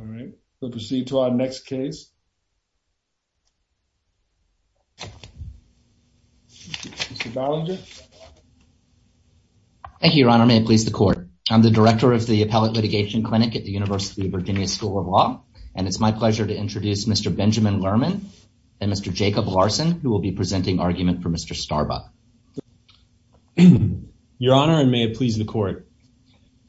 All right we'll proceed to our next case. Mr. Ballinger. Thank you your honor, may it please the court. I'm the director of the Appellate Litigation Clinic at the University of Virginia School of Law and it's my pleasure to introduce Mr. Benjamin Lerman and Mr. Jacob Larson who will be presenting argument for Mr. Starbuck. Your honor and may it please the court.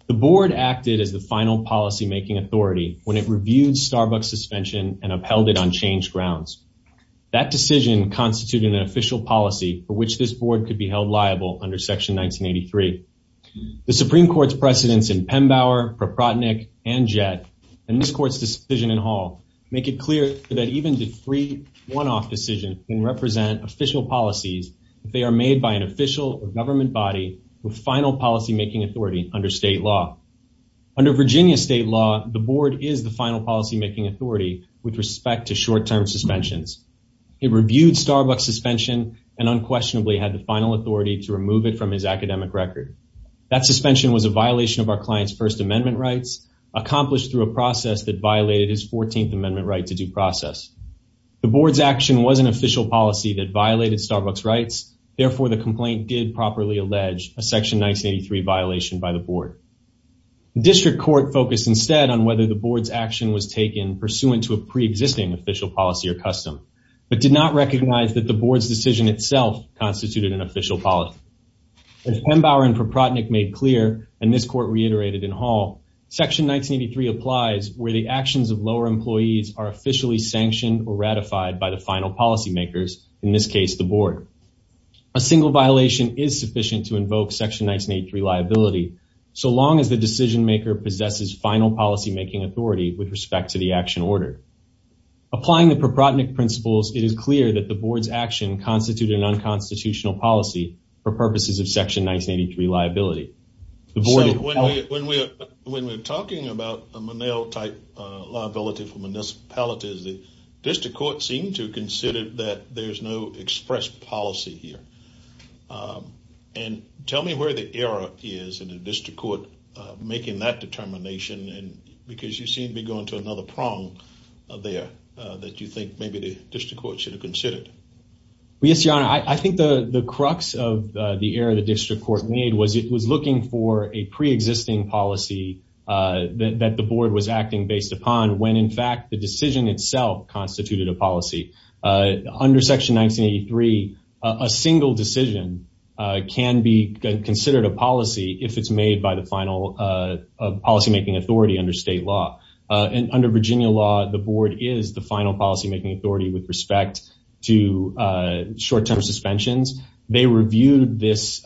The board acted as the final policy-making authority when it reviewed Starbuck's suspension and upheld it on changed grounds. That decision constituted an official policy for which this board could be held liable under section 1983. The Supreme Court's precedents in Pembauer, Proprotnick, and Jett and this court's decision in Hall make it clear that even the three one-off decisions can represent official policies if they are made by an official or government body with final policy-making authority under state law. Under Virginia state law the board is the final policy-making authority with respect to short-term suspensions. It reviewed Starbuck's suspension and unquestionably had the final authority to remove it from his academic record. That suspension was a violation of our client's first amendment rights accomplished through a process that violated his 14th amendment right to due process. The board's action was an official policy that violated Starbuck's rights therefore the complaint did properly allege a section 1983 violation by the board. The district court focused instead on whether the board's action was taken pursuant to a pre-existing official policy or custom but did not recognize that the board's decision itself constituted an official policy. As Pembauer and Proprotnick made clear and this court reiterated in Hall, section 1983 applies where the actions of lower employees are officially sanctioned or ratified by the final policy makers in this case the board. A single violation is sufficient to invoke section 1983 liability so long as the decision maker possesses final policy-making authority with respect to the action order. Applying the Proprotnick principles it is clear that the board's action constituted an unconstitutional policy for purposes of section 1983 liability. So when we're talking about a Monell type liability for municipalities the district court seemed to consider that there's no express policy here and tell me where the error is in the district court making that determination and because you seem to be going to another prong there that you think maybe the district court should have considered. Yes your honor I think the crux of the error the district court made was it was looking for a pre-existing policy that the board was acting based upon when in fact the decision itself constituted a policy. Under section 1983 a single decision can be considered a policy if it's made by the final policy-making authority under state law and under Virginia law the board is the final policy-making authority with respect to short-term suspensions. They reviewed this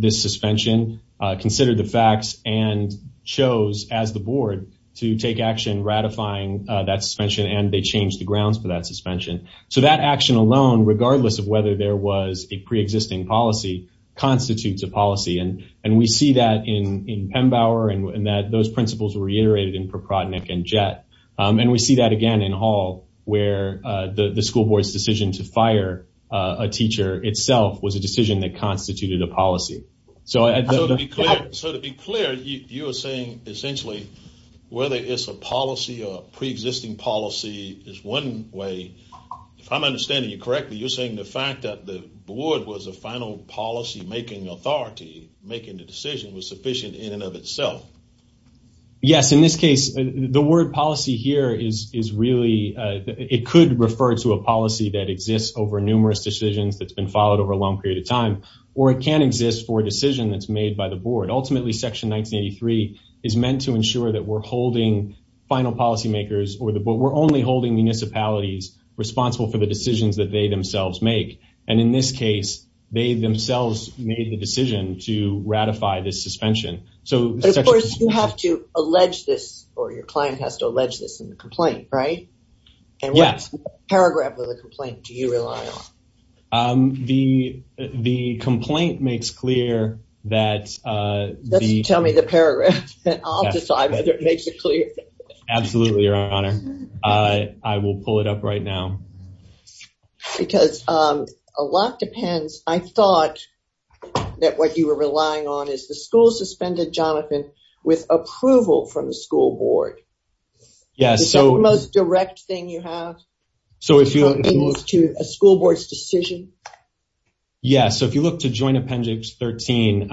suspension, considered the facts and chose as the board to take action ratifying that suspension and they changed the grounds for that suspension. So that action alone regardless of whether there was a pre-existing policy constitutes a policy and we see that in Pembauer and that those principles were reiterated and Jett and we see that again in Hall where the school board's decision to fire a teacher itself was a decision that constituted a policy. So to be clear you are saying essentially whether it's a policy or a pre-existing policy is one way if I'm understanding you correctly you're saying the fact that the board was a final policy-making authority making the decision was the word policy here is really it could refer to a policy that exists over numerous decisions that's been followed over a long period of time or it can exist for a decision that's made by the board. Ultimately section 1983 is meant to ensure that we're holding final policymakers or the but we're only holding municipalities responsible for the decisions that they themselves make and in this case they themselves made the decision to ratify this suspension. So of course you have to allege this or your client has to allege this in the complaint right? Yes. And what paragraph of the complaint do you rely on? The complaint makes clear that. Just tell me the paragraph I'll decide whether it makes it clear. Absolutely your honor I will pull it up right now. Because a lot depends I thought that what you were relying on is the school suspended Jonathan with approval from the school board. Yes. So the most direct thing you have so if you look to a school board's decision. Yes so if you look to joint appendix 13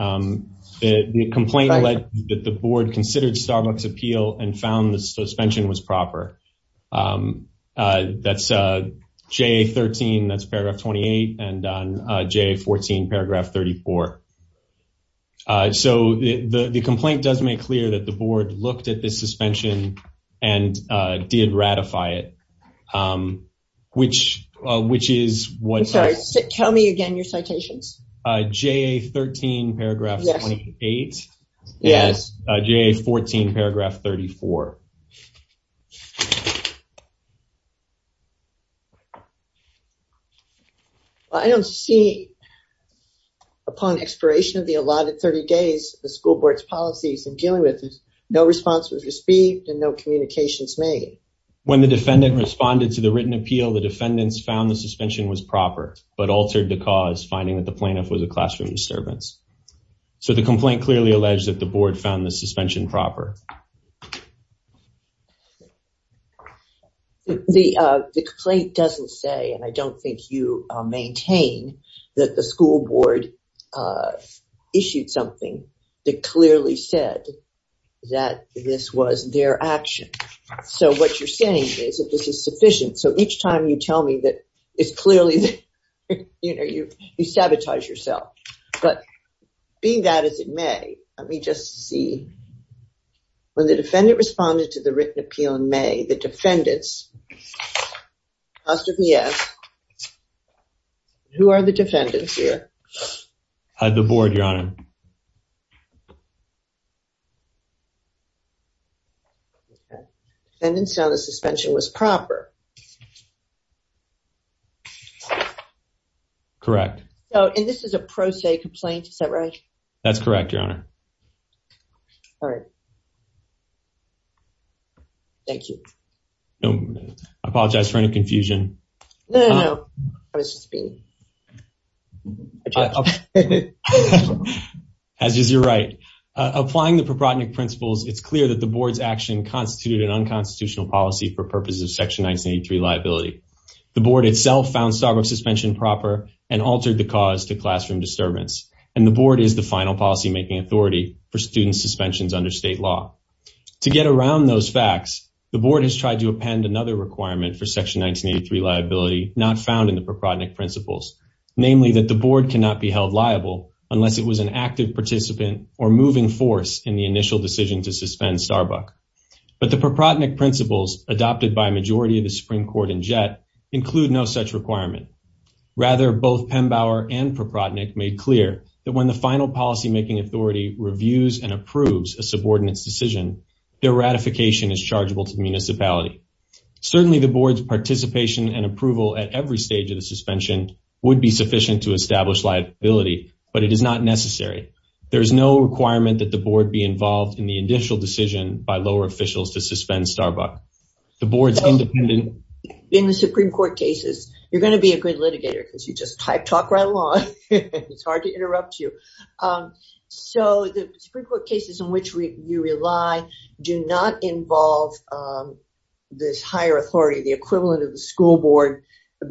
the complaint led that the board considered starbucks appeal and found the suspension was board looked at the suspension and did ratify it which which is what sorry tell me again your citations. JA 13 paragraph 28. Yes. JA 14 paragraph 34. I don't see upon expiration of the allotted 30 days the school board's policies in dealing with this no response was received and no communications made. When the defendant responded to the written appeal the defendants found the suspension was proper but altered the cause finding that the plaintiff was a classroom disturbance. So the complaint clearly alleged that the board found the suspension proper. The complaint doesn't say and I don't think you maintain that the school board issued something that clearly said that this was their action so what you're saying is that this is sufficient so each time you tell me that it's clearly you know you you sabotage yourself but being that as it may let me just see when the defendant responded to the written appeal in May the defendants asked if he asked who are the defendants here? The board your honor. Defendants found the suspension was proper. Correct. Oh and this is a pro se complaint is that right? That's correct your honor. All right. Thank you. No I apologize for any confusion. No no I was just being As you're right. Applying the propotinic principles it's clear that the board's action constituted an unconstitutional policy for purposes of section 1983 liability. The board itself found stockwork suspension proper and altered the cause to classroom disturbance and the board is the final policy making authority for student suspensions under state law. To get around those facts the board has tried to append another requirement for section 1983 liability not found in the propotinic principles. Namely that the board cannot be held liable unless it was an active participant or moving force in the initial decision to suspend Starbuck. But the propotinic principles adopted by a majority of the Supreme Court and Jett include no such requirement. Rather both Pembauer and Propotinic made clear that when the final policy making authority reviews and approves a subordinate's decision their ratification is chargeable to the municipality. Certainly the board's participation and approval at every stage of the suspension would be sufficient to establish liability but it is not necessary. There is no requirement that the board be involved in the initial decision by lower officials to suspend Starbuck. The board's independent in the Supreme Court cases you're going to be a good so the Supreme Court cases in which we you rely do not involve this higher authority the equivalent of the school board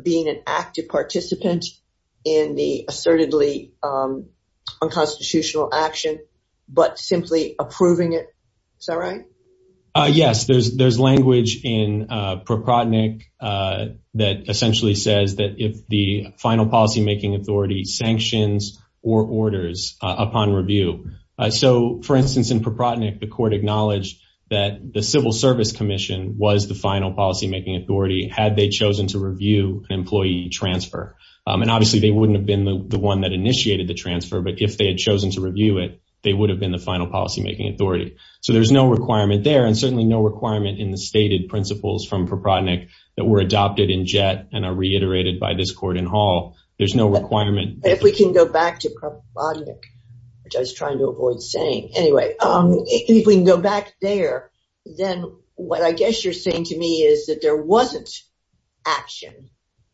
being an active participant in the assertedly unconstitutional action but simply approving it. Is that right? Yes there's there's language in propotinic that essentially says that if the final policy making authority sanctions or orders upon review so for instance in propotinic the court acknowledged that the civil service commission was the final policy making authority had they chosen to review an employee transfer and obviously they wouldn't have been the one that initiated the transfer but if they had chosen to review it they would have been the final policy making authority. So there's no requirement there and certainly no court in hall there's no requirement. If we can go back to propotinic which I was trying to avoid saying anyway if we can go back there then what I guess you're saying to me is that there wasn't action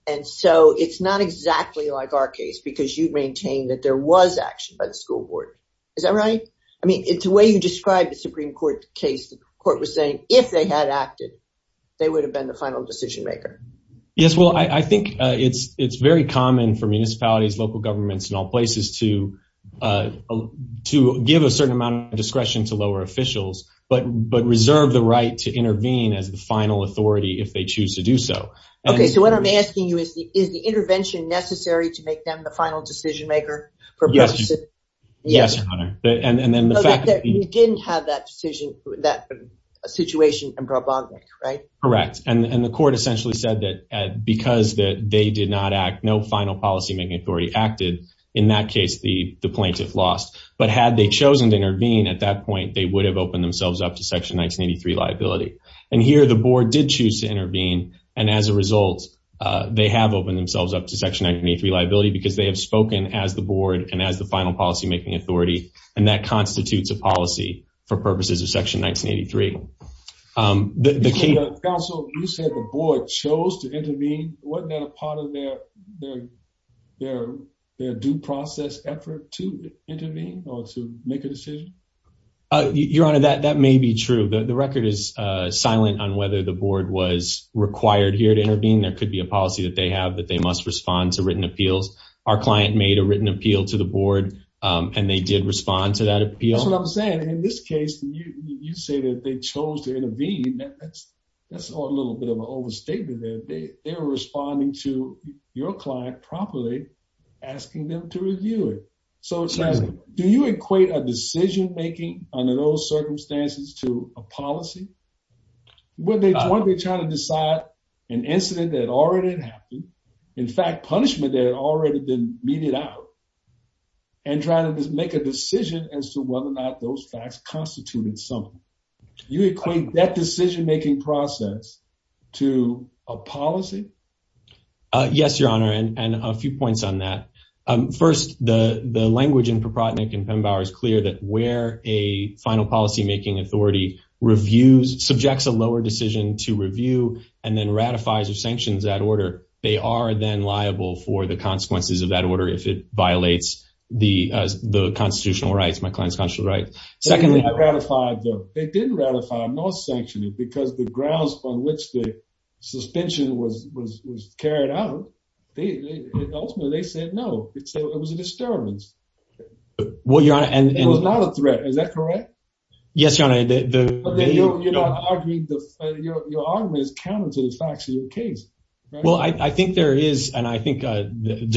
and so it's not exactly like our case because you maintain that there was action by the school board. Is that right? I mean it's the way you described the Supreme Court case the court was saying if they had acted they would have been the final decision maker. Yes well I think it's it's very common for municipalities local governments in all places to to give a certain amount of discretion to lower officials but but reserve the right to intervene as the final authority if they choose to do so. Okay so what I'm asking you is the is the intervention necessary to make them the final decision maker? Yes yes and then the fact that you didn't have that decision that situation in propotinic right? Correct and the court essentially said that because that they did not act no final policy making authority acted in that case the the plaintiff lost but had they chosen to intervene at that point they would have opened themselves up to section 1983 liability and here the board did choose to intervene and as a result they have opened themselves up to section 1983 liability because they have spoken as the board and as the final policy making authority and that constitutes a policy for purposes of section 1983. Counsel you said the board chose to intervene wasn't that a part of their their their their due process effort to intervene or to make a decision? Your honor that that may be true the record is uh silent on whether the board was required here to intervene there could be a policy that they have that they must respond to written appeals our client made a written appeal to the board um and they did respond to that appeal. That's what I'm saying in this case you say that they chose to intervene that's that's a little bit of an overstatement that they they're responding to your client properly asking them to review it so do you equate a decision making under those circumstances to a policy? Were they trying to decide an incident that already been meted out and trying to make a decision as to whether or not those facts constituted something you equate that decision making process to a policy? Yes your honor and and a few points on that um first the the language in Propotnick and Pembauer is clear that where a final policy making authority reviews subjects a lower decision to review and then ratifies or of that order if it violates the uh the constitutional rights my client's constitutional right. Secondly I ratified them they didn't ratify nor sanction it because the grounds on which the suspension was was was carried out they ultimately they said no it was a disturbance. Well your honor and it was not a threat is that correct? Yes your honor the you're not arguing the your argument is counter to the facts of your case. Well I I think there is and I think uh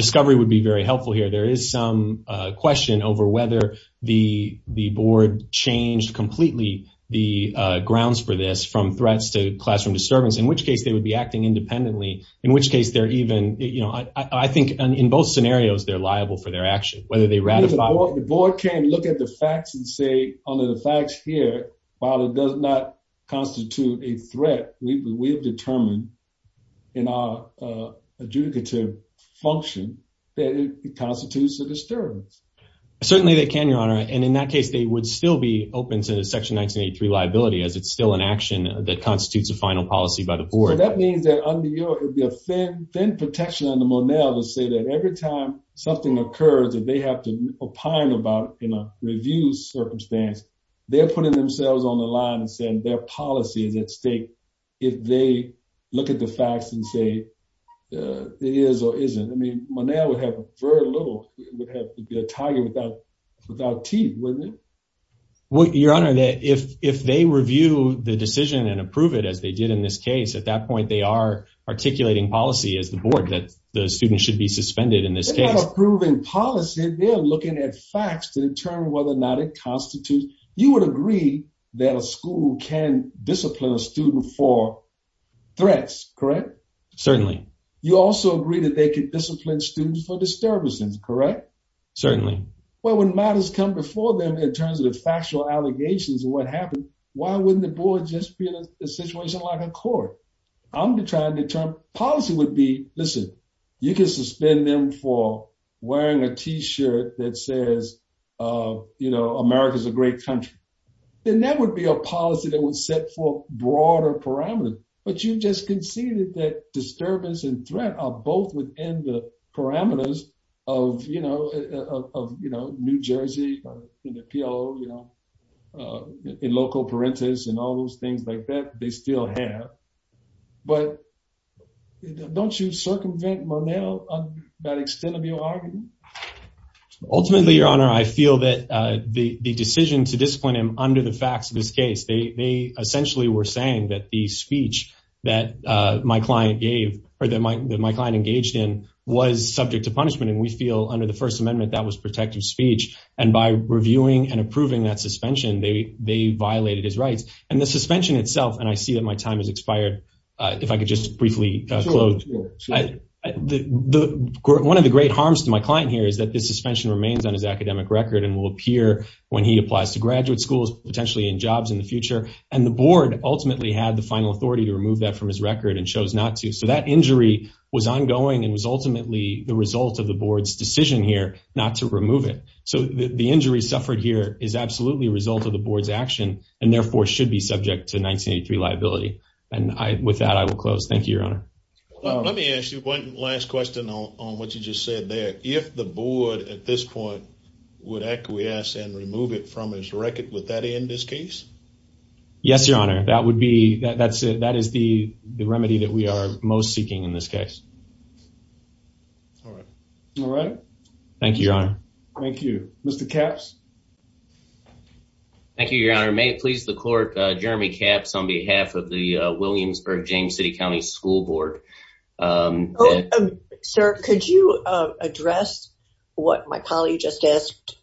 discovery would be very helpful here there is some uh question over whether the the board changed completely the uh grounds for this from threats to classroom disturbance in which case they would be acting independently in which case they're even you know I I think in both scenarios they're liable for their action whether they ratify the board can't look at the facts and say under the facts here while it does not constitute a threat we will determine in our uh adjudicative function that it constitutes a disturbance. Certainly they can your honor and in that case they would still be open to the section 1983 liability as it's still an action that constitutes a final policy by the board. That means that under your thin thin protection under Monell would say that every time something occurs that they have to opine about in a review circumstance they're putting themselves on the line and saying their policy is at stake if they look at the facts and say uh it is or isn't I mean Monell would have very little would have to be a target without without teeth wouldn't it? Well your honor that if if they review the decision and approve it as they did in this case at that point they are articulating policy as the board that the students should be suspended in this case. They're not approving policy they're looking at facts to determine whether or not it constitutes you would agree that a school can discipline a student for threats correct? Certainly. You also agree that they could discipline students for disturbances correct? Certainly. Well when matters come before them in terms of the factual allegations of what happened why wouldn't the board just be in a situation like a court? I'm trying to turn policy would be listen you can suspend them for wearing a t-shirt that says uh you know America's a great country then that would be a policy that was set for broader parameters but you just conceded that disturbance and threat are both within the parameters of you know of you know New Jersey in the PLO you know uh in loco parentis and all those things like that they still have but don't you circumvent Monell on that extent of your argument? Ultimately your honor I feel that the the decision to discipline him under the facts of this case they essentially were saying that the speech that uh my client gave or that my client engaged in was subject to punishment and we feel under the first amendment that was protective speech and by reviewing and approving that suspension they they violated his rights and the suspension itself and I see that my time has expired uh if I could just briefly close the the one of the great harms to my client here is that suspension remains on his academic record and will appear when he applies to graduate schools potentially in jobs in the future and the board ultimately had the final authority to remove that from his record and chose not to so that injury was ongoing and was ultimately the result of the board's decision here not to remove it so the injury suffered here is absolutely a result of the board's action and therefore should be subject to 1983 liability and I with that I will close thank you your honor let me ask you one last question on what you just said there if the board at this point would acquiesce and remove it from his record would that end this case yes your honor that would be that that's it that is the the remedy that we are most seeking in this case all right all right thank you your honor thank you mr caps thank you your honor may it school board um sir could you uh address what my colleague just asked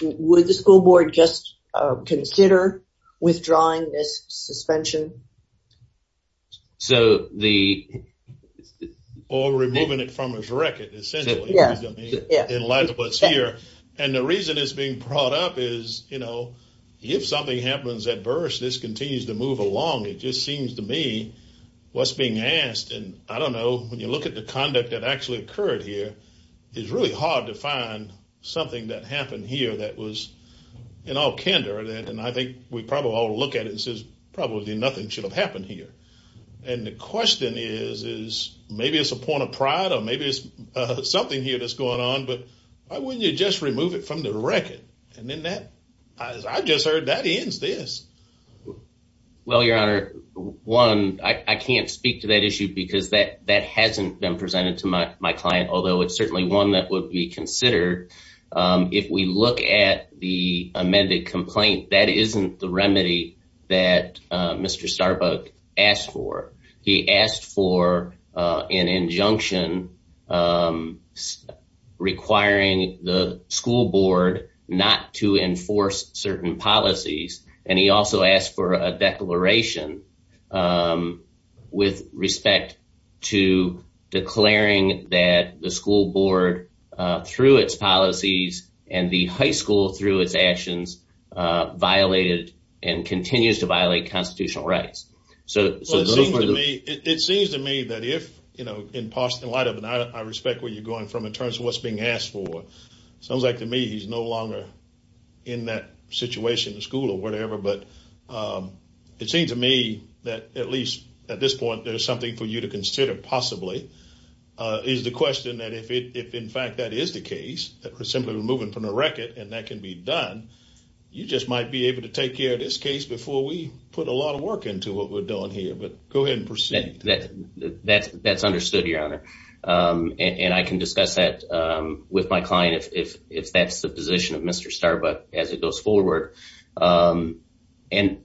would the school board just consider withdrawing this suspension so the or removing it from his record essentially yeah in light of what's here and the reason it's being brought up is you know if something happens at birth this continues to move along it just seems to me what's being asked and I don't know when you look at the conduct that actually occurred here it's really hard to find something that happened here that was in all candor that and I think we probably all look at it and says probably nothing should have happened here and the question is is maybe it's a point of pride or maybe it's uh something here that's going on but why wouldn't you just remove it from the record and then that as I just heard that ends this well your honor one I can't speak to that issue because that that hasn't been presented to my my client although it's certainly one that would be considered um if we look at the amended complaint that isn't the remedy that uh mr starbuck asked for he asked for uh an injunction um requiring the school board not to enforce certain policies and he also asked for a declaration um with respect to declaring that the school board uh through its policies and the high school through its actions uh violated and continues to violate constitutional rights so it seems to me it seems to me that if you know in parts in light of and I respect where you're going from in terms of what's being asked for sounds like to me he's no longer in that situation the school or whatever but it seems to me that at least at this point there's something for you to consider possibly uh is the question that if it if in fact that is the case that we're simply removing from the record and that can be done you just might be able to take care of this case before we put a lot of work into what we're doing here but go ahead and proceed that that's that's understood your honor um and i can discuss that um with my client if if that's the position of mr starbuck as it goes forward um and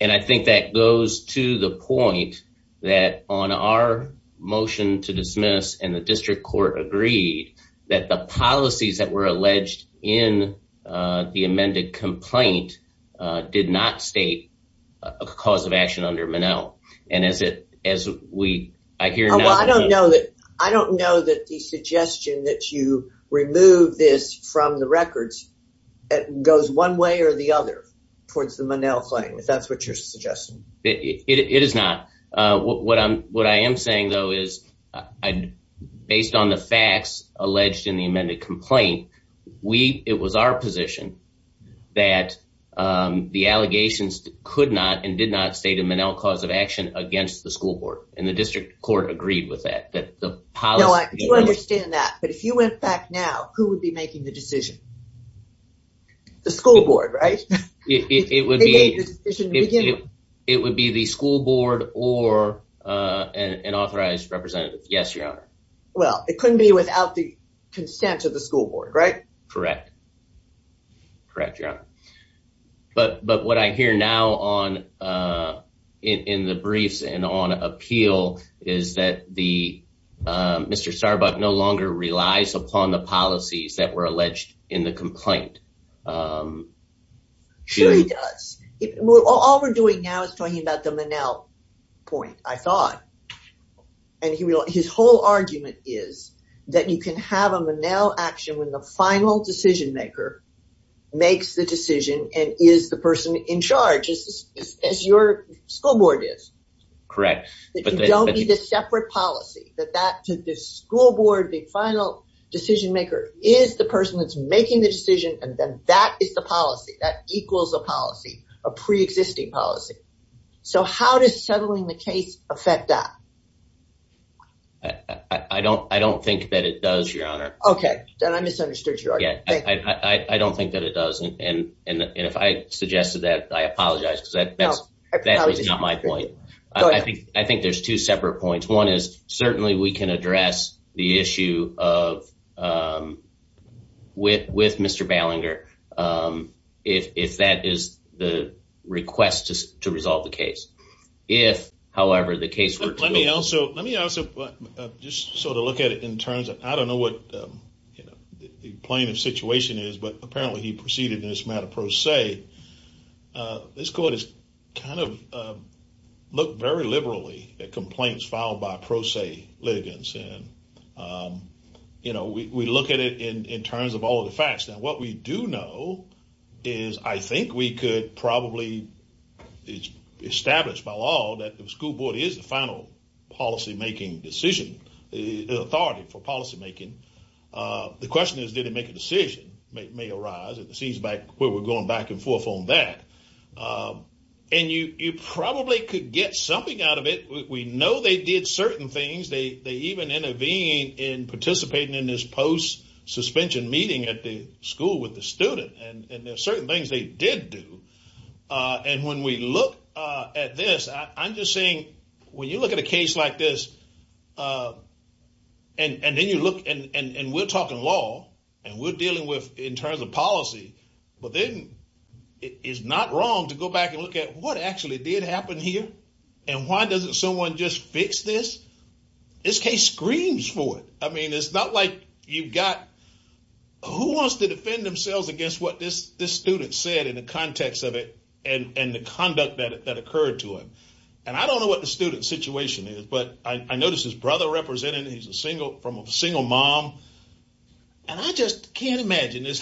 and i think that goes to the point that on our motion to dismiss and the district court agreed that the policies that were alleged in uh the amended complaint uh did not state a cause of action under manel and as it as we i hear no i don't know that i don't know that the suggestion that you remove this from the records that goes one way or the other towards the manel claim if that's what you're suggesting it it is not uh what i'm what i am saying though is i based on the facts alleged in the amended complaint we it was our position that um the allegations could not and did not state a manel cause of action against the school board and the district court agreed with that that the policy understand that but if you went back now who would be making the decision the school board right it would be it would be the school board or uh an authorized representative yes your honor well it couldn't be without the correct your honor but but what i hear now on uh in in the briefs and on appeal is that the mr starbuck no longer relies upon the policies that were alleged in the complaint um sure he does all we're doing now is talking about the manel point i thought and he will his whole argument is that you can have a manel action when the final decision maker makes the decision and is the person in charge as your school board is correct but you don't need a separate policy that that to the school board the final decision maker is the person that's making the decision and then that is the policy that equals a policy a pre-existing policy so how does settling the case affect that i don't i don't think that it does your honor okay then i misunderstood you yeah i i don't think that it doesn't and and and if i suggested that i apologize because that's that's not my point i think i think there's two separate points one is certainly we can address the issue of um with with mr ballinger um if if that is the request to resolve the case if however the case let me also let me also just sort of look at it in terms of i don't know what you know the plaintiff situation is but apparently he proceeded in this matter pro se this court has kind of looked very liberally at complaints filed by pro se litigants and um you know we we look at it in in terms of all the facts now what we do know is i think we could probably it's established by law that the school board is the final policy making decision the authority for policy making uh the question is did it make a decision may arise it seems back where we're going back and forth on that um and you you probably could get something out of it we know they did certain things they they even intervene in participating in this post suspension meeting at the school with the student and and there's certain things they did do uh and when we look uh at this i'm just saying when you look at a case like this uh and and then you look and and and we're talking law and we're dealing with in terms of policy but then it is not wrong to go back and look at what actually did happen here and why doesn't someone just fix this this case screams for it i mean it's not like you've got who wants to defend themselves against what this this student said in the context of it and and the conduct that that occurred to him and i don't know what the student situation is but i notice his brother representing he's a single from a single mom and i just can't imagine this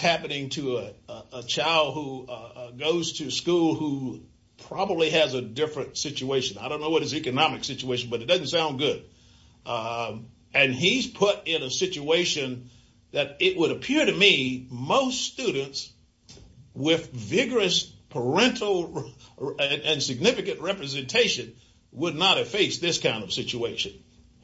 don't know what his economic situation but it doesn't sound good um and he's put in a situation that it would appear to me most students with vigorous parental and significant representation would not have faced this kind of situation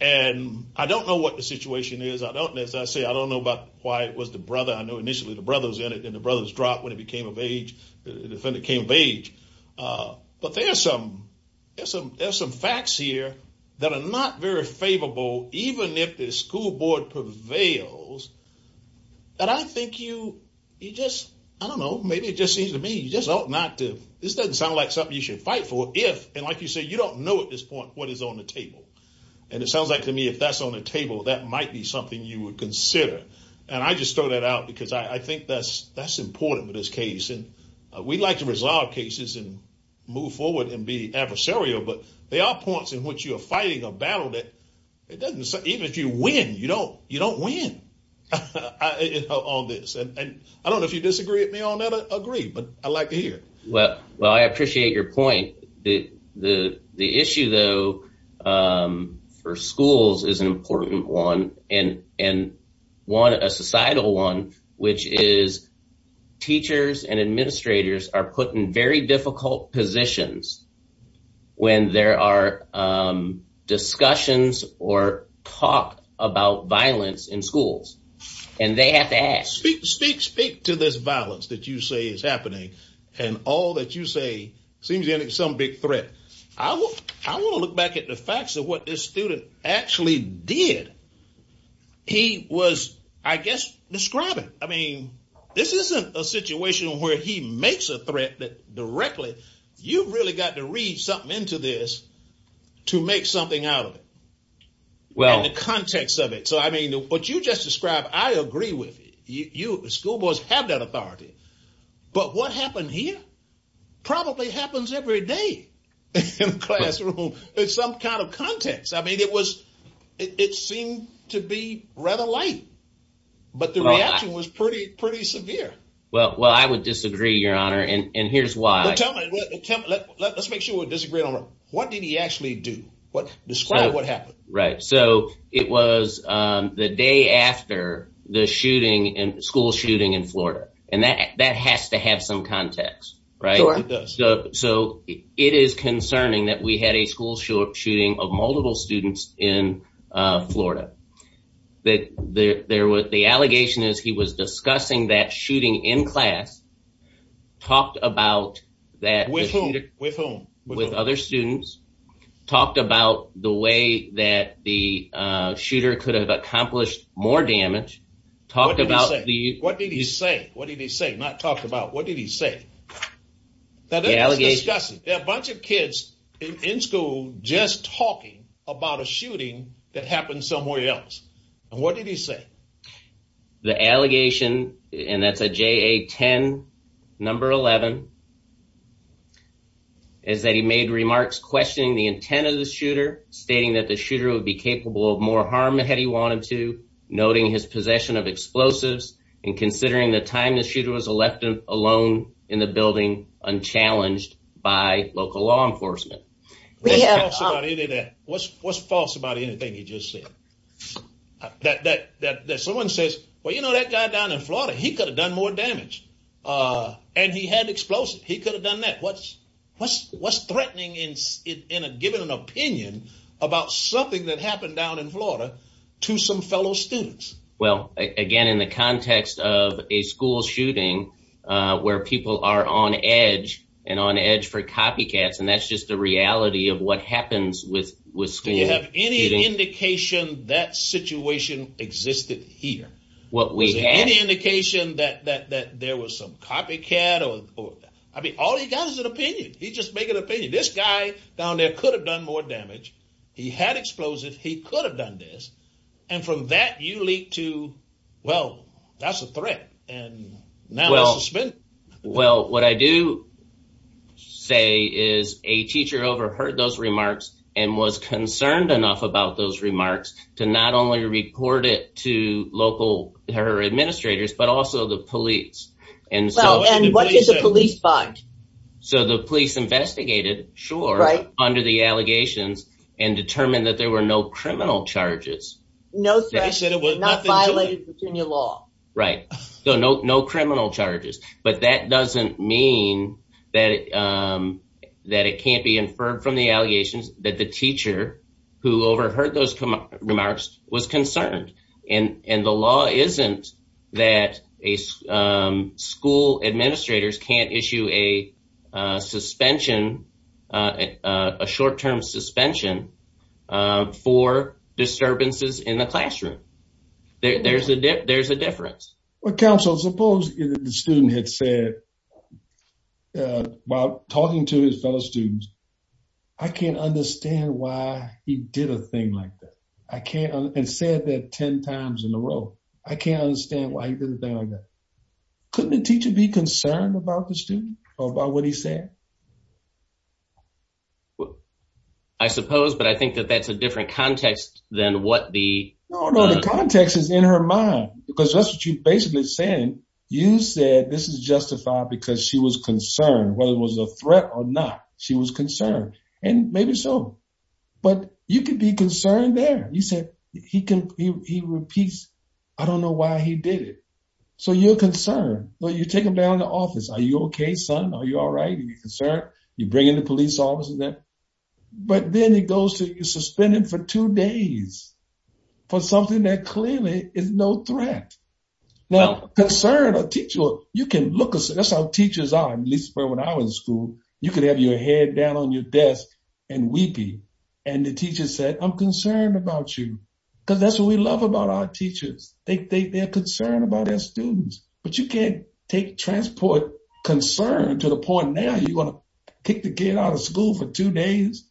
and i don't know what the situation is i don't as i say i don't know about why it was the brother i know initially the brothers in it and the brothers dropped when it became of age the defendant came of age uh but there are some there's some there's some facts here that are not very favorable even if the school board prevails that i think you you just i don't know maybe it just seems to me you just ought not to this doesn't sound like something you should fight for if and like you say you don't know at this point what is on the table and it sounds like to me if that's on the table that might be something you would consider and i just throw that out because i i think that's that's important with this case and we'd like to resolve cases and move forward and be adversarial but there are points in which you are fighting a battle that it doesn't even if you win you don't you don't win on this and i don't know if you disagree with me on that agree but i like to hear well well i appreciate your point the the the issue though um for schools is an important one and and one a societal one which is teachers and administrators are put in very difficult positions when there are discussions or talk about violence in schools and they have to ask speak speak speak to this seems to end in some big threat i will i want to look back at the facts of what this student actually did he was i guess describing i mean this isn't a situation where he makes a threat that directly you've really got to read something into this to make something out of it well in the context of it so i mean what you just described i agree with you school boys have that authority but what happened here probably happens every day in the classroom it's some kind of context i mean it was it seemed to be rather light but the reaction was pretty pretty severe well well i would disagree your honor and and here's why let's make sure we disagree on what did he actually do what describe what happened right so it was um the day after the shooting and school shooting in florida and that that has to have some context right so it is concerning that we had a school shooting of multiple students in florida that there was the allegation is he was discussing that shooting in class talked about that with whom with whom with other students talked about the way that the uh shooter could have accomplished more damage talked about the what did he say what did he say not talked about what did he say a bunch of kids in school just talking about a shooting that happened somewhere else and what did he say the allegation and that's a ja10 number 11 is that he made remarks questioning the intent of the shooter stating that the shooter would be capable of more harm had he wanted to noting his possession of explosives and considering the time the shooter was elected alone in the building unchallenged by local law enforcement what's what's false about anything he just said that that that someone says well you know that guy down in uh and he had explosive he could have done that what's what's what's threatening in in a given an opinion about something that happened down in florida to some fellow students well again in the context of a school shooting uh where people are on edge and on edge for copycats and that's just the reality of what happens with with school you have any indication that situation existed here what we had any indication that that that there was some copycat or or i mean all he got is an opinion he just make an opinion this guy down there could have done more damage he had explosive he could have done this and from that you leak to well that's a threat and now well well what i do say is a teacher overheard those remarks and was concerned enough about those local her administrators but also the police and so and what did the police find so the police investigated sure right under the allegations and determined that there were no criminal charges no threat said it was not violated between your law right so no no criminal charges but that doesn't mean that um that it can't be inferred from the allegations that the teacher who overheard those remarks was concerned and and the law isn't that a school administrators can't issue a suspension a short-term suspension for disturbances in the classroom there's a there's a difference well counsel suppose the student had said uh while talking to his fellow students i can't understand why he did a thing like that i can't and said that 10 times in a row i can't understand why he did a thing like that couldn't the teacher be concerned about the student or about what he said well i suppose but i think that that's a different context than what the no no the context is in her mind because that's what you basically saying you said this is justified because she was concerned whether it was a threat or not she was concerned and maybe so but you could be concerned there you said he can he repeats i don't know why he did it so you're concerned well you take him down to office are you okay son are you all right you're concerned you bring in the police officers there but then he goes to you suspended for two days for something that clearly is no threat now concern a teacher you can look at that's how teachers are at least when i was in school you could have your head down on your desk and weepy and the teacher said i'm concerned about you because that's what we love about our teachers they think they're concerned about their students but you can't take transport concern to the point now you're gonna kick the kid out of school for two days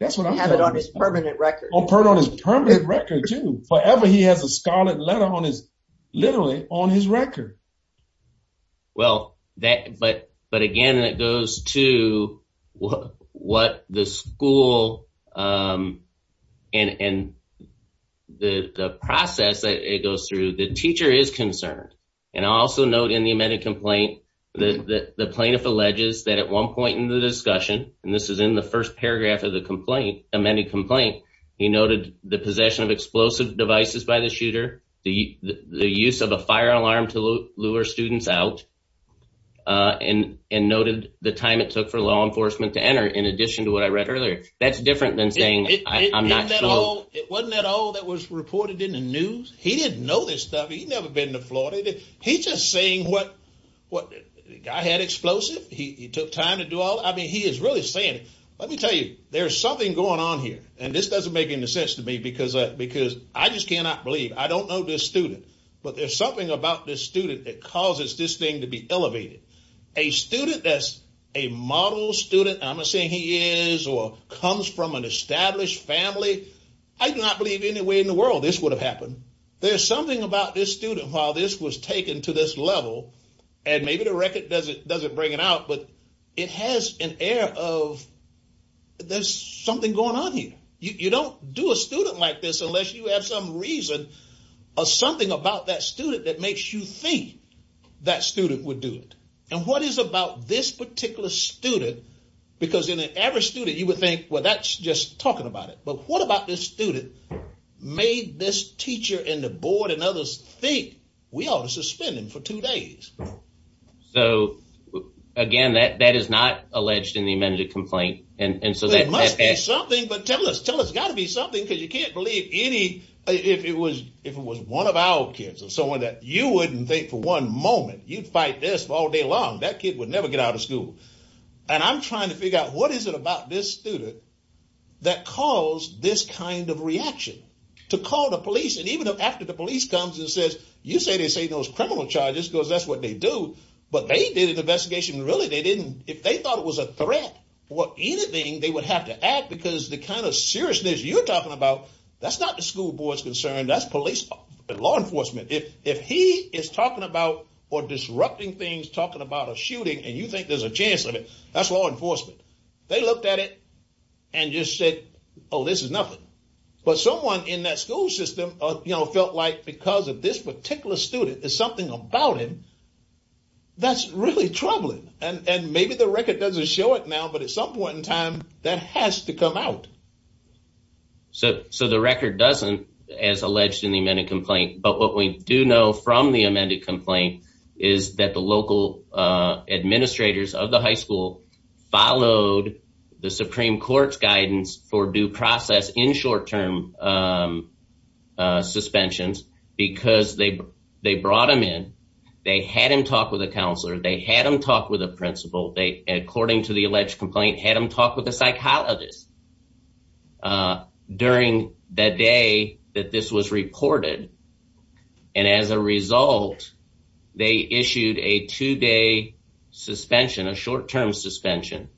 that's what i have it on his permanent record i'll put on his permanent record too forever he has a scarlet letter on his literally on his record well that but but again it goes to what the school um and and the the process that it goes through the teacher is concerned and also note in the amended complaint that the plaintiff alleges that at one point in the discussion and this is in the first paragraph of the complaint amended complaint he noted the possession of explosive devices by the shooter the the use of a fire alarm to lure students out uh and and noted the time it took for law enforcement to enter in addition to what i read earlier that's different than saying i'm not sure it wasn't at all that was reported in the he's just saying what what the guy had explosive he took time to do all i mean he is really saying let me tell you there's something going on here and this doesn't make any sense to me because because i just cannot believe i don't know this student but there's something about this student that causes this thing to be elevated a student that's a model student i'm not saying he is or comes from an established family i do not believe any way in the world this would have happened there's something about this student while this was taken to this level and maybe the record doesn't doesn't bring it out but it has an air of there's something going on here you don't do a student like this unless you have some reason or something about that student that makes you think that student would do it and what is about this particular student because in an average student you would think well that's just talking about it but what about this student made this teacher and the board and others think we ought to suspend him for two days so again that that is not alleged in the amended complaint and and so that must be something but tell us tell us got to be something because you can't believe any if it was if it was one of our kids or someone that you wouldn't think for one moment you'd fight this all day long that kid would never get out of school and i'm trying to figure out what is it about this student that caused this kind of reaction to call the police and even though after the police comes and says you say they say those criminal charges because that's what they do but they did an investigation really they didn't if they thought it was a threat or anything they would have to act because the kind of seriousness you're talking about that's not the school board's concern that's police law enforcement if if he is talking about or disrupting things talking about a shooting and you think there's a chance of it that's law enforcement they looked at it and just said oh this is nothing but someone in that school system uh you know felt like because of this particular student there's something about him that's really troubling and and maybe the record doesn't show it now but at some point in time that has to come out so so the record doesn't as alleged in the amended complaint is that the local uh administrators of the high school followed the supreme court's guidance for due process in short-term um uh suspensions because they they brought him in they had him talk with a counselor they had him talk with a principal they according to the alleged complaint had him talk with a psychologist uh during the day that this was recorded and as a result they issued a two-day suspension a short-term suspension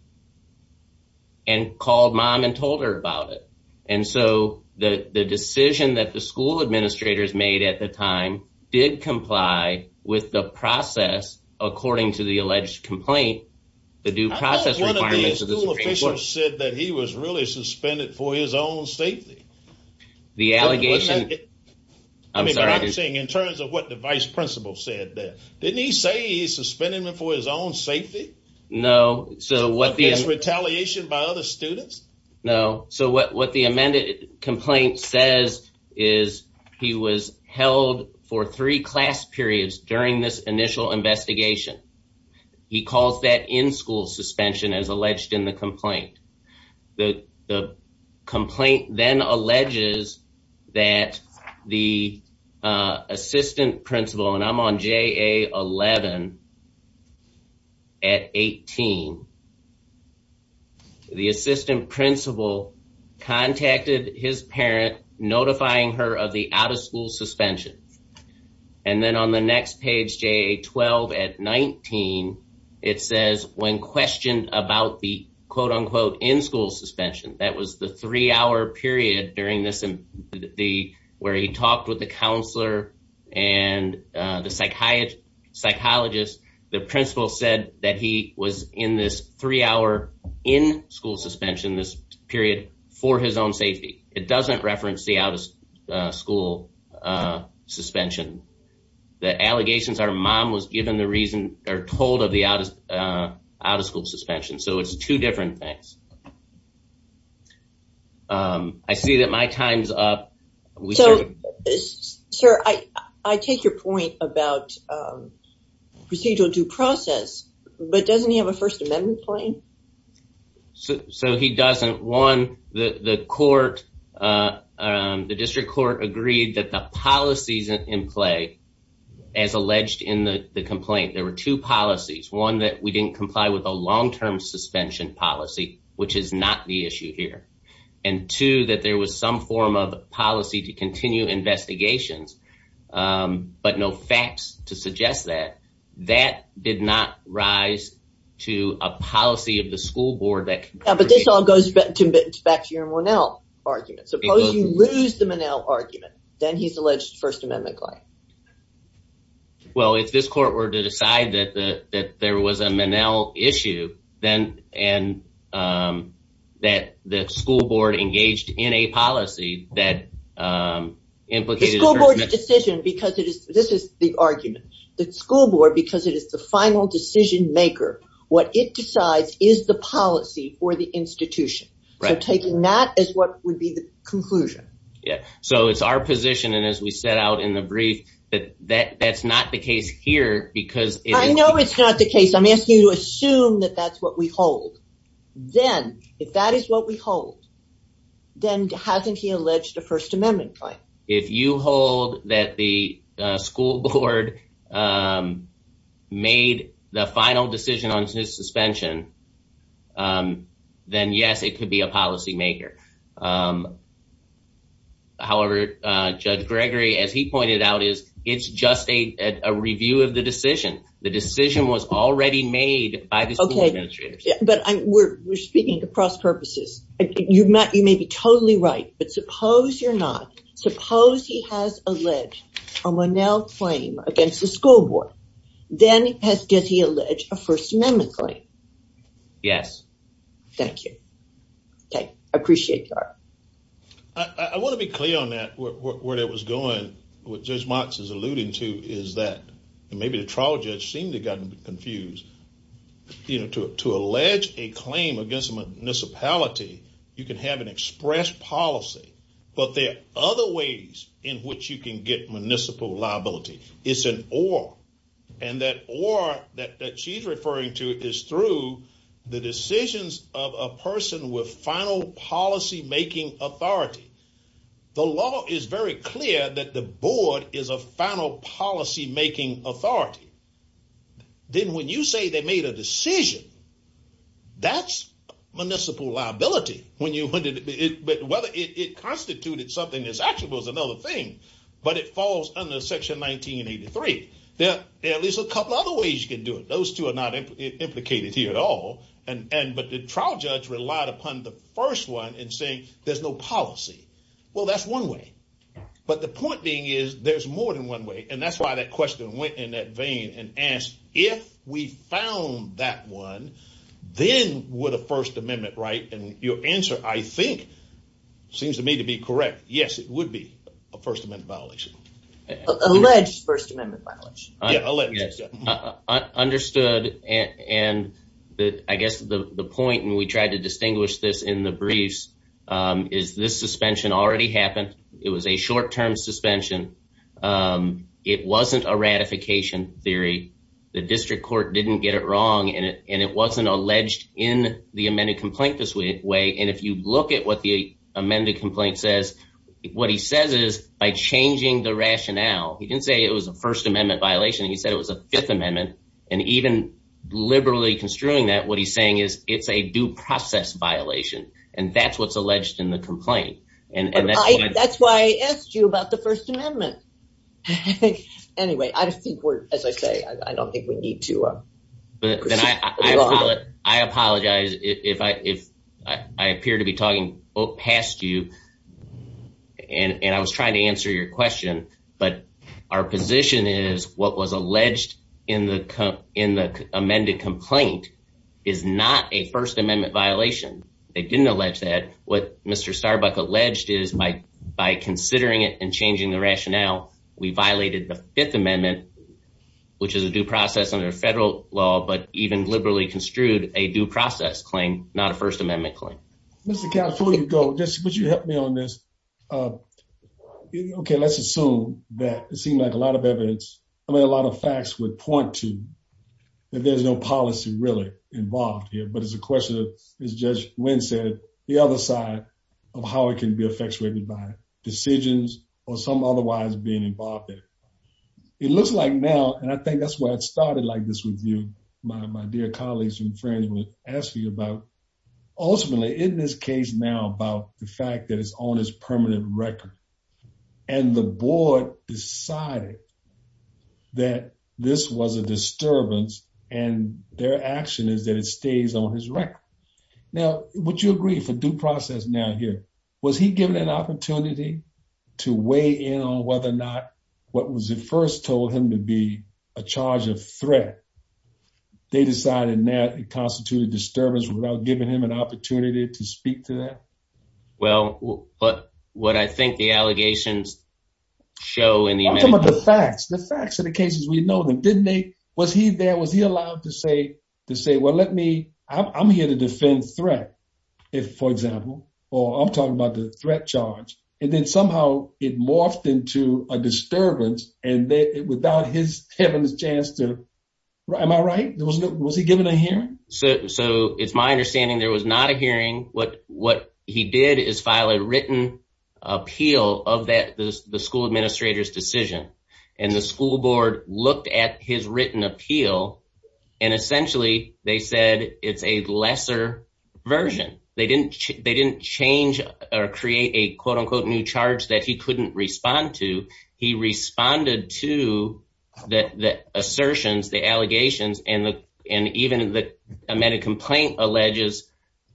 and called mom and told her about it and so the the decision that the school administrators made at the time did comply with the process according to the alleged complaint the due process said that he was really suspended for his own safety the allegation i'm sorry i'm saying in terms of what the vice principal said that didn't he say he suspended him for his own safety no so what is retaliation by other students no so what what the amended complaint says is he was held for three class periods during this initial investigation he calls that in-school suspension as alleged in the complaint the the complaint then alleges that the uh assistant principal and i'm on ja 11 at 18 the assistant principal contacted his parent notifying her of the out-of-school suspension and then on the next page ja 12 at 19 it says when questioned about the quote-unquote in-school suspension that was the three-hour period during this the where he talked with the counselor and uh the psychiatrist psychologist the principal said that he was in this three-hour in-school suspension this period for his own safety it doesn't reference the out-of-school uh suspension the allegations our mom was given the reason they're told of the out of out-of-school suspension so it's two different things um i see that my time's up so sir i i take your point about um procedural due process but doesn't he have a first amendment claim so so he doesn't one the the court uh um the district court agreed that the policies in play as alleged in the the complaint there were two policies one that we didn't comply with a long-term suspension policy which is not the issue here and two that there was some form of policy to continue investigations um but no facts to suggest that that did not rise to a policy of the school board that yeah but this all goes back to back to your monel argument suppose you lose the monel argument then he's alleged first amendment well if this court were to decide that the that there was a manel issue then and um that the school board engaged in a policy that um implicated the school board decision because this is the argument that school board because it is the final decision maker what it decides is the policy for the institution so taking that as what would be the conclusion yeah so it's our position and as we set out in the brief that that that's not the case here because i know it's not the case i'm asking you to assume that that's what we hold then if that is what we hold then hasn't he alleged a first amendment claim if you hold that the school board um made the final decision on his suspension um then yes it could be a policy maker um however uh judge gregory as he pointed out is it's just a a review of the decision the decision was already made by the but suppose you're not suppose he has alleged a monel claim against the school board then has did he allege a first amendment claim yes thank you okay i appreciate that i i want to be clear on that where that was going what judge mox is alluding to is that and maybe the trial judge seemed to gotten confused you know to to allege a claim against the municipality you can have an express policy but there are other ways in which you can get municipal liability it's an or and that or that that she's referring to is through the decisions of a person with final policy making authority the law is very clear that the board is a final policy making authority then when you say made a decision that's municipal liability when you wanted it but whether it constituted something that's actually was another thing but it falls under section 1983 there at least a couple other ways you can do it those two are not implicated here at all and and but the trial judge relied upon the first one and saying there's no policy well that's one way but the point being is there's one way and that's why that question went in that vein and asked if we found that one then would a first amendment right and your answer i think seems to me to be correct yes it would be a first amendment violation alleged first amendment violence understood and and that i guess the the point and we tried to distinguish this in the briefs um is this suspension already happened it was a short-term suspension um it wasn't a ratification theory the district court didn't get it wrong and it and it wasn't alleged in the amended complaint this way way and if you look at what the amended complaint says what he says is by changing the rationale he didn't say it was a first amendment violation he said it was a fifth amendment and even liberally construing that what he's saying is it's a due process violation and that's what's alleged in the that's why i asked you about the first amendment i think anyway i think we're as i say i don't think we need to uh but then i i apologize if i if i appear to be talking past you and and i was trying to answer your question but our position is what was alleged in the in the amended complaint is not a first amendment violation they didn't allege that what mr starbuck alleged is by by considering it and changing the rationale we violated the fifth amendment which is a due process under federal law but even liberally construed a due process claim not a first amendment claim mr cat before you go just would you help me on this uh okay let's assume that seemed like a lot of evidence i mean a lot of facts would point to that there's no policy really involved here but it's a question of as judge win said the other side of how it can be effectuated by decisions or some otherwise being involved in it it looks like now and i think that's why it started like this review my my dear colleagues and friends would ask me about ultimately in this now about the fact that it's on his permanent record and the board decided that this was a disturbance and their action is that it stays on his record now would you agree for due process now here was he given an opportunity to weigh in on whether or not what was the first told him to be a charge of threat they decided that it constituted disturbance without giving him an opportunity to speak to that well but what i think the allegations show in the facts the facts of the cases we know them didn't they was he there was he allowed to say to say well let me i'm here to defend threat if for example or i'm talking about the threat charge and then somehow it morphed into a disturbance and then without his heaven's chance to am i right there was no was he given a so so it's my understanding there was not a hearing what what he did is file a written appeal of that the school administrator's decision and the school board looked at his written appeal and essentially they said it's a lesser version they didn't they didn't change or create a quote-unquote new charge that he couldn't respond to he responded to that the assertions the allegations and the and even the amended complaint alleges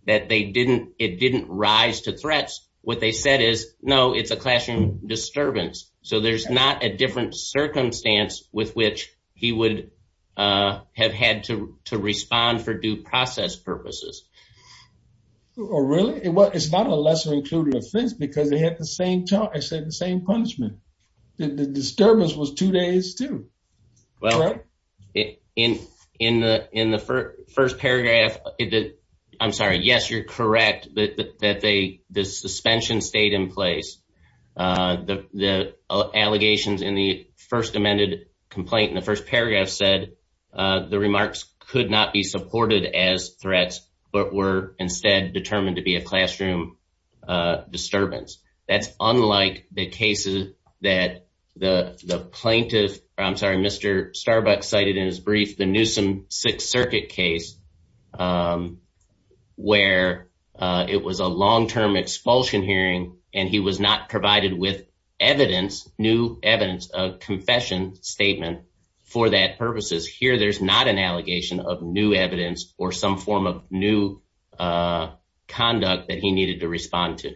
that they didn't it didn't rise to threats what they said is no it's a classroom disturbance so there's not a different circumstance with which he would uh have had to to respond for due process purposes or really what it's not a lesser included offense because they had the same i said the same punishment the disturbance was two days too well in in the in the first paragraph i'm sorry yes you're correct but that they the suspension stayed in place uh the the allegations in the first amended complaint in the first paragraph said uh the remarks could not be supported as threats but were instead determined to be a classroom uh disturbance that's unlike the cases that the the plaintiff i'm sorry mr starbucks cited in his brief the newsome sixth circuit case um where uh it was a long-term expulsion hearing and he was not provided with evidence new evidence a confession statement for that purposes here there's not an allegation of new evidence or some form of new uh conduct that he needed to respond to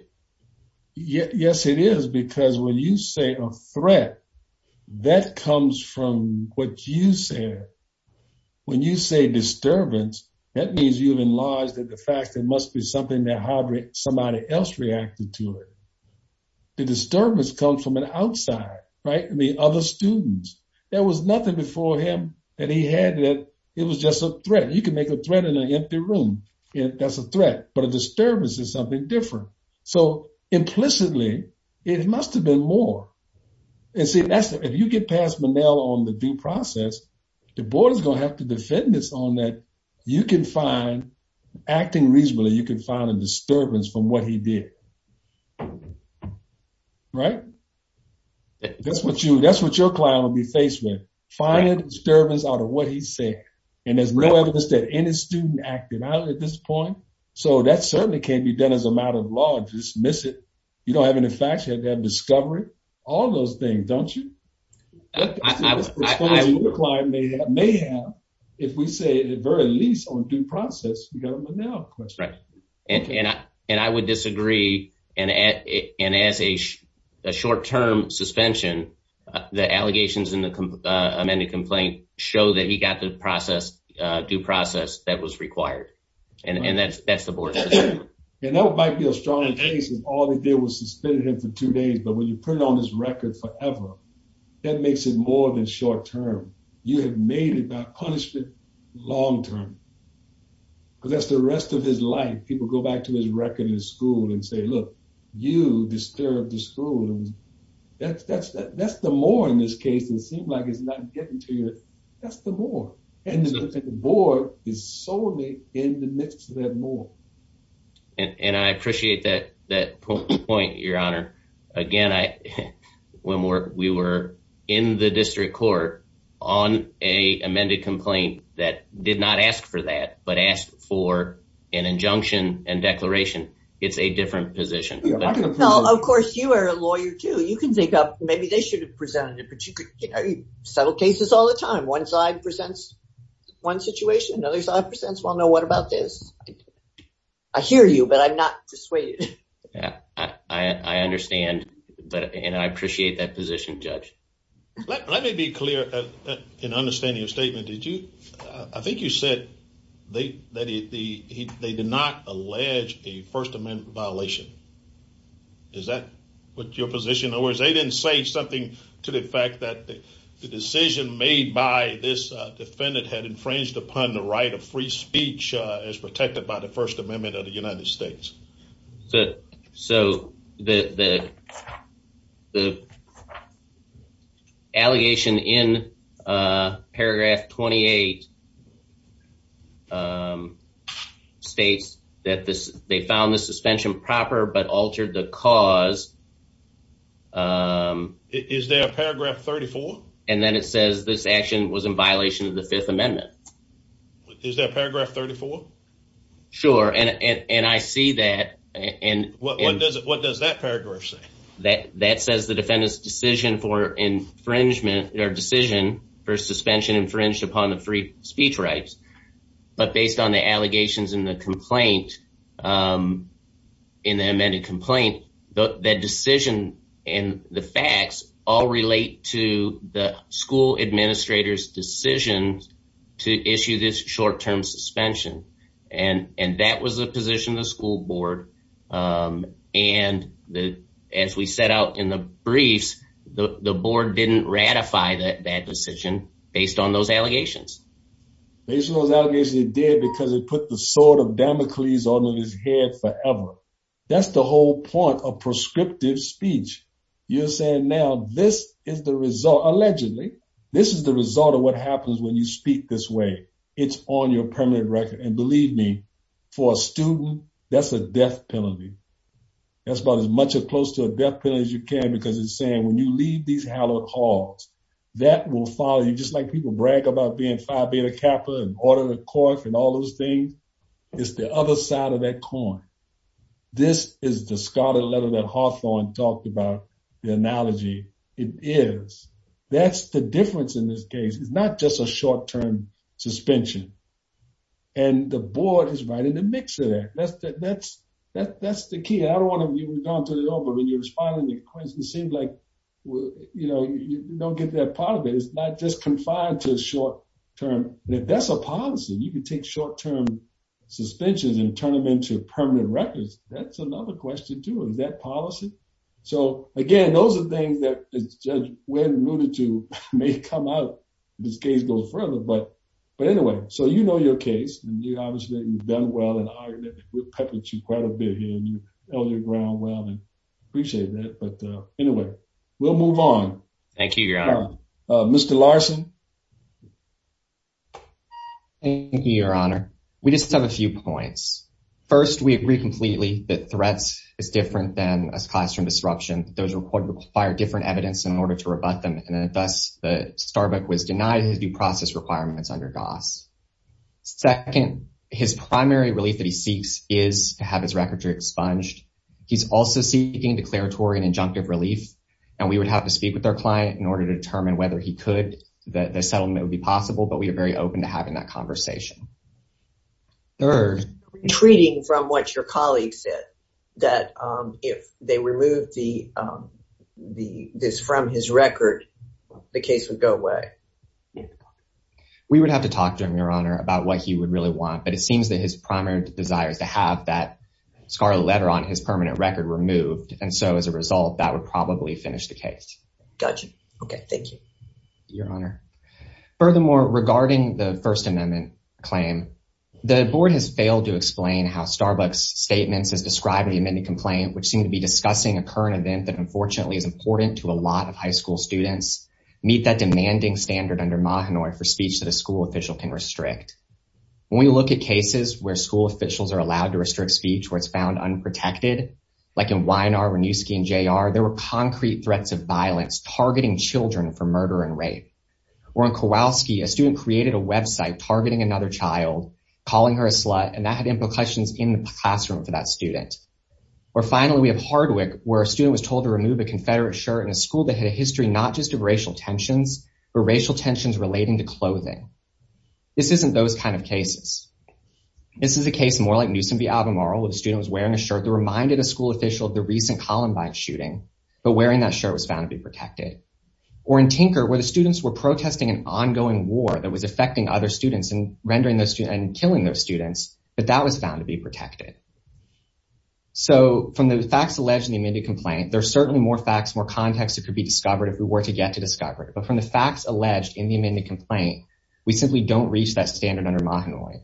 yes it is because when you say a threat that comes from what you said when you say disturbance that means you've enlarged that the fact there must be something that hybrid somebody else reacted to it the disturbance comes from an outside right i mean other students there was just a threat you can make a threat in an empty room if that's a threat but a disturbance is something different so implicitly it must have been more and see that's if you get past manel on the due process the board is going to have to defend this on that you can find acting reasonably you can find a disturbance from what he did right that's what you that's what your client will be finding disturbance out of what he's saying and there's no evidence that any student acted out at this point so that certainly can't be done as a matter of law just miss it you don't have any facts you have to have discovery all those things don't you i may have may have if we say at very least on due process because right and and i and i would disagree and at and as a short-term suspension the allegations in the amended complaint show that he got the process due process that was required and and that's that's the board and that might be a strong case is all they did was suspended him for two days but when you print on this record forever that makes it more than short term you have made it about punishment long term because that's the rest of his life people go back to his record in school and say look you disturbed the school that's that's that that's the more in this case it seemed like it's not getting to you that's the more and the board is solely in the midst of that more and i appreciate that that point your honor again i when we were in the district court on a amended complaint that did not ask for that but asked for an injunction and declaration it's a different position of course you are a lawyer too you can think up maybe they should have presented it but you could you know you settle cases all the time one side presents one situation another side presents well no what about this i hear you but i'm not persuaded yeah i i i understand but and i appreciate that position judge let me be clear in understanding your statement did you i think you they that he he they did not allege a first amendment violation is that what your position or is they didn't say something to the fact that the decision made by this defendant had infringed upon the right of free speech uh as protected by the first amendment of the united states um states that this they found the suspension proper but altered the cause um is there a paragraph 34 and then it says this action was in violation of the fifth amendment is there a paragraph 34 sure and and i see that and what does it what does that paragraph say that that says the defendant's decision for infringement or decision for suspension infringed upon the free speech rights but based on the allegations in the complaint in the amended complaint the decision and the facts all relate to the school administrator's decisions to issue this short-term suspension and and that was the position the school board um and the as we set out in the briefs the the board didn't ratify that bad decision based on those allegations based on those allegations it did because it put the sword of damocles on his head forever that's the whole point of prescriptive speech you're saying now this is the result allegedly this is the result of what happens when you speak this way it's on your permanent record and believe me for a student that's a death penalty that's about as much as close to a death penalty as you can because it's saying when you leave these hallowed halls that will follow you just like people brag about being phi beta kappa and order the cork and all those things it's the other side of that coin this is the scarlet letter that hawthorne talked about the analogy it is that's the difference in this case it's not just a short-term suspension and the board is right in the mix of that that's that that's that that's the key i don't want to you've gone through it all but when you're responding to questions it seems like you know you don't get that part of it it's not just confined to a short-term that that's a policy you can take short-term suspensions and turn them into permanent records that's another question too is that policy so again those are things that judge when rooted to may come out this case goes but but anyway so you know your case and you obviously you've done well in the argument we've peppered you quite a bit here and you held your ground well and appreciate that but anyway we'll move on thank you your honor uh mr larson thank you your honor we just have a few points first we agree completely that threats is different than a classroom disruption those record require different evidence in order to goss second his primary relief that he seeks is to have his record to expunged he's also seeking declaratory and injunctive relief and we would have to speak with our client in order to determine whether he could that the settlement would be possible but we are very open to having that conversation third retreating from what your colleague said that um if they removed the um the this from his record the case would go away we would have to talk to him your honor about what he would really want but it seems that his primary desire is to have that scarlet letter on his permanent record removed and so as a result that would probably finish the case gotcha okay thank you your honor furthermore regarding the first amendment claim the board has failed to explain how starbucks statements has described the amended complaint which seemed to be discussing a current event that unfortunately is important to a lot of high school students meet that demanding standard under Mahanoy for speech that a school official can restrict when we look at cases where school officials are allowed to restrict speech where it's found unprotected like in Weinar, Renewski, and J.R. there were concrete threats of violence targeting children for murder and rape or in Kowalski a student created a website targeting another child calling her a slut and that had implications in the classroom for that student or finally we have Hardwick where a student was told to remove a confederate shirt in a school that had a history not just of racial tensions but racial tensions relating to clothing this isn't those kind of cases this is a case more like Newsom v. Albemarle where the student was wearing a shirt that reminded a school official of the recent Columbine shooting but wearing that shirt was found to be protected or in Tinker where the students were protesting an ongoing war that was affecting other students and rendering those and killing those students but that was found to be protected so from the facts alleged in the amended complaint there's certainly more facts more context that could be discovered if we were to get to discover it but from the facts alleged in the amended complaint we simply don't reach that standard under Mahanoy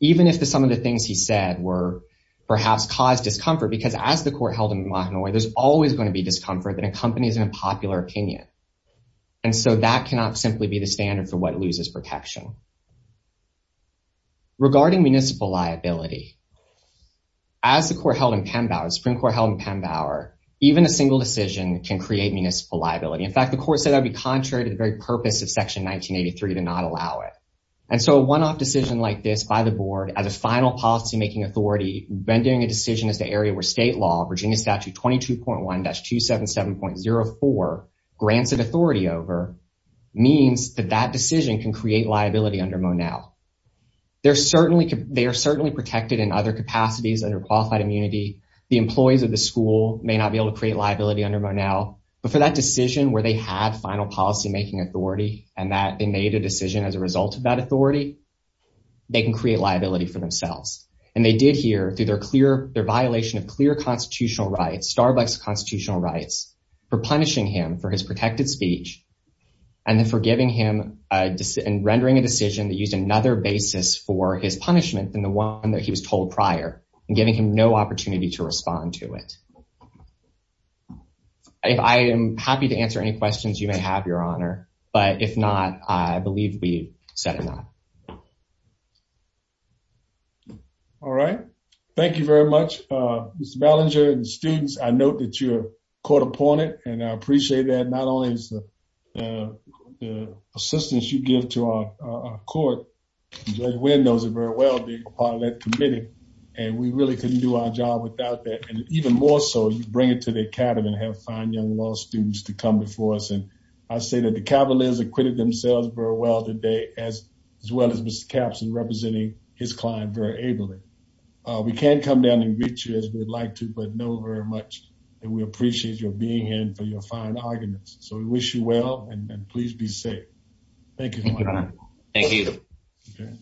even if some of the things he said were perhaps caused discomfort because as the court held in Mahanoy there's always going to be discomfort that accompanies an unpopular opinion and so that cannot simply be the standard for what loses protection regarding municipal liability as the court held in Pembauer Supreme Court held in Pembauer even a single decision can create municipal liability in fact the court said that would be contrary to the very purpose of section 1983 to not allow it and so a one-off decision like this by the board as a final policy making authority rendering a decision as the area where state law Virginia statute 22.1-277.04 grants it authority over means that that decision can create liability under Monell they're certainly they are certainly protected in other capacities under qualified immunity the employees of the school may not be able to create liability under Monell but for that decision where they had final policy making authority and that they made a decision as a result of that authority they can create liability for themselves and they did here through their clear their violation of clear constitutional rights starbucks constitutional rights for punishing him for his protected speech and then forgiving him and rendering a decision that used another basis for his punishment than the one that he was told prior and giving him no opportunity to respond to it if I am happy to answer any questions you may have your honor but if not I believe we said enough all right thank you very much uh mr Ballinger and students I note that you're caught upon it and I appreciate that not only is the the assistance you give to our uh court but windows are very well being a part of that committee and we really couldn't do our job without that and even more so you bring it to the academy and have fine young law students to come before us and I say that the cavaliers acquitted themselves very well today as as well as mr caps and representing his client very ably uh we can't down and reach you as we'd like to but know very much and we appreciate your being here and for your fine arguments so we wish you well and please be safe thank you thank you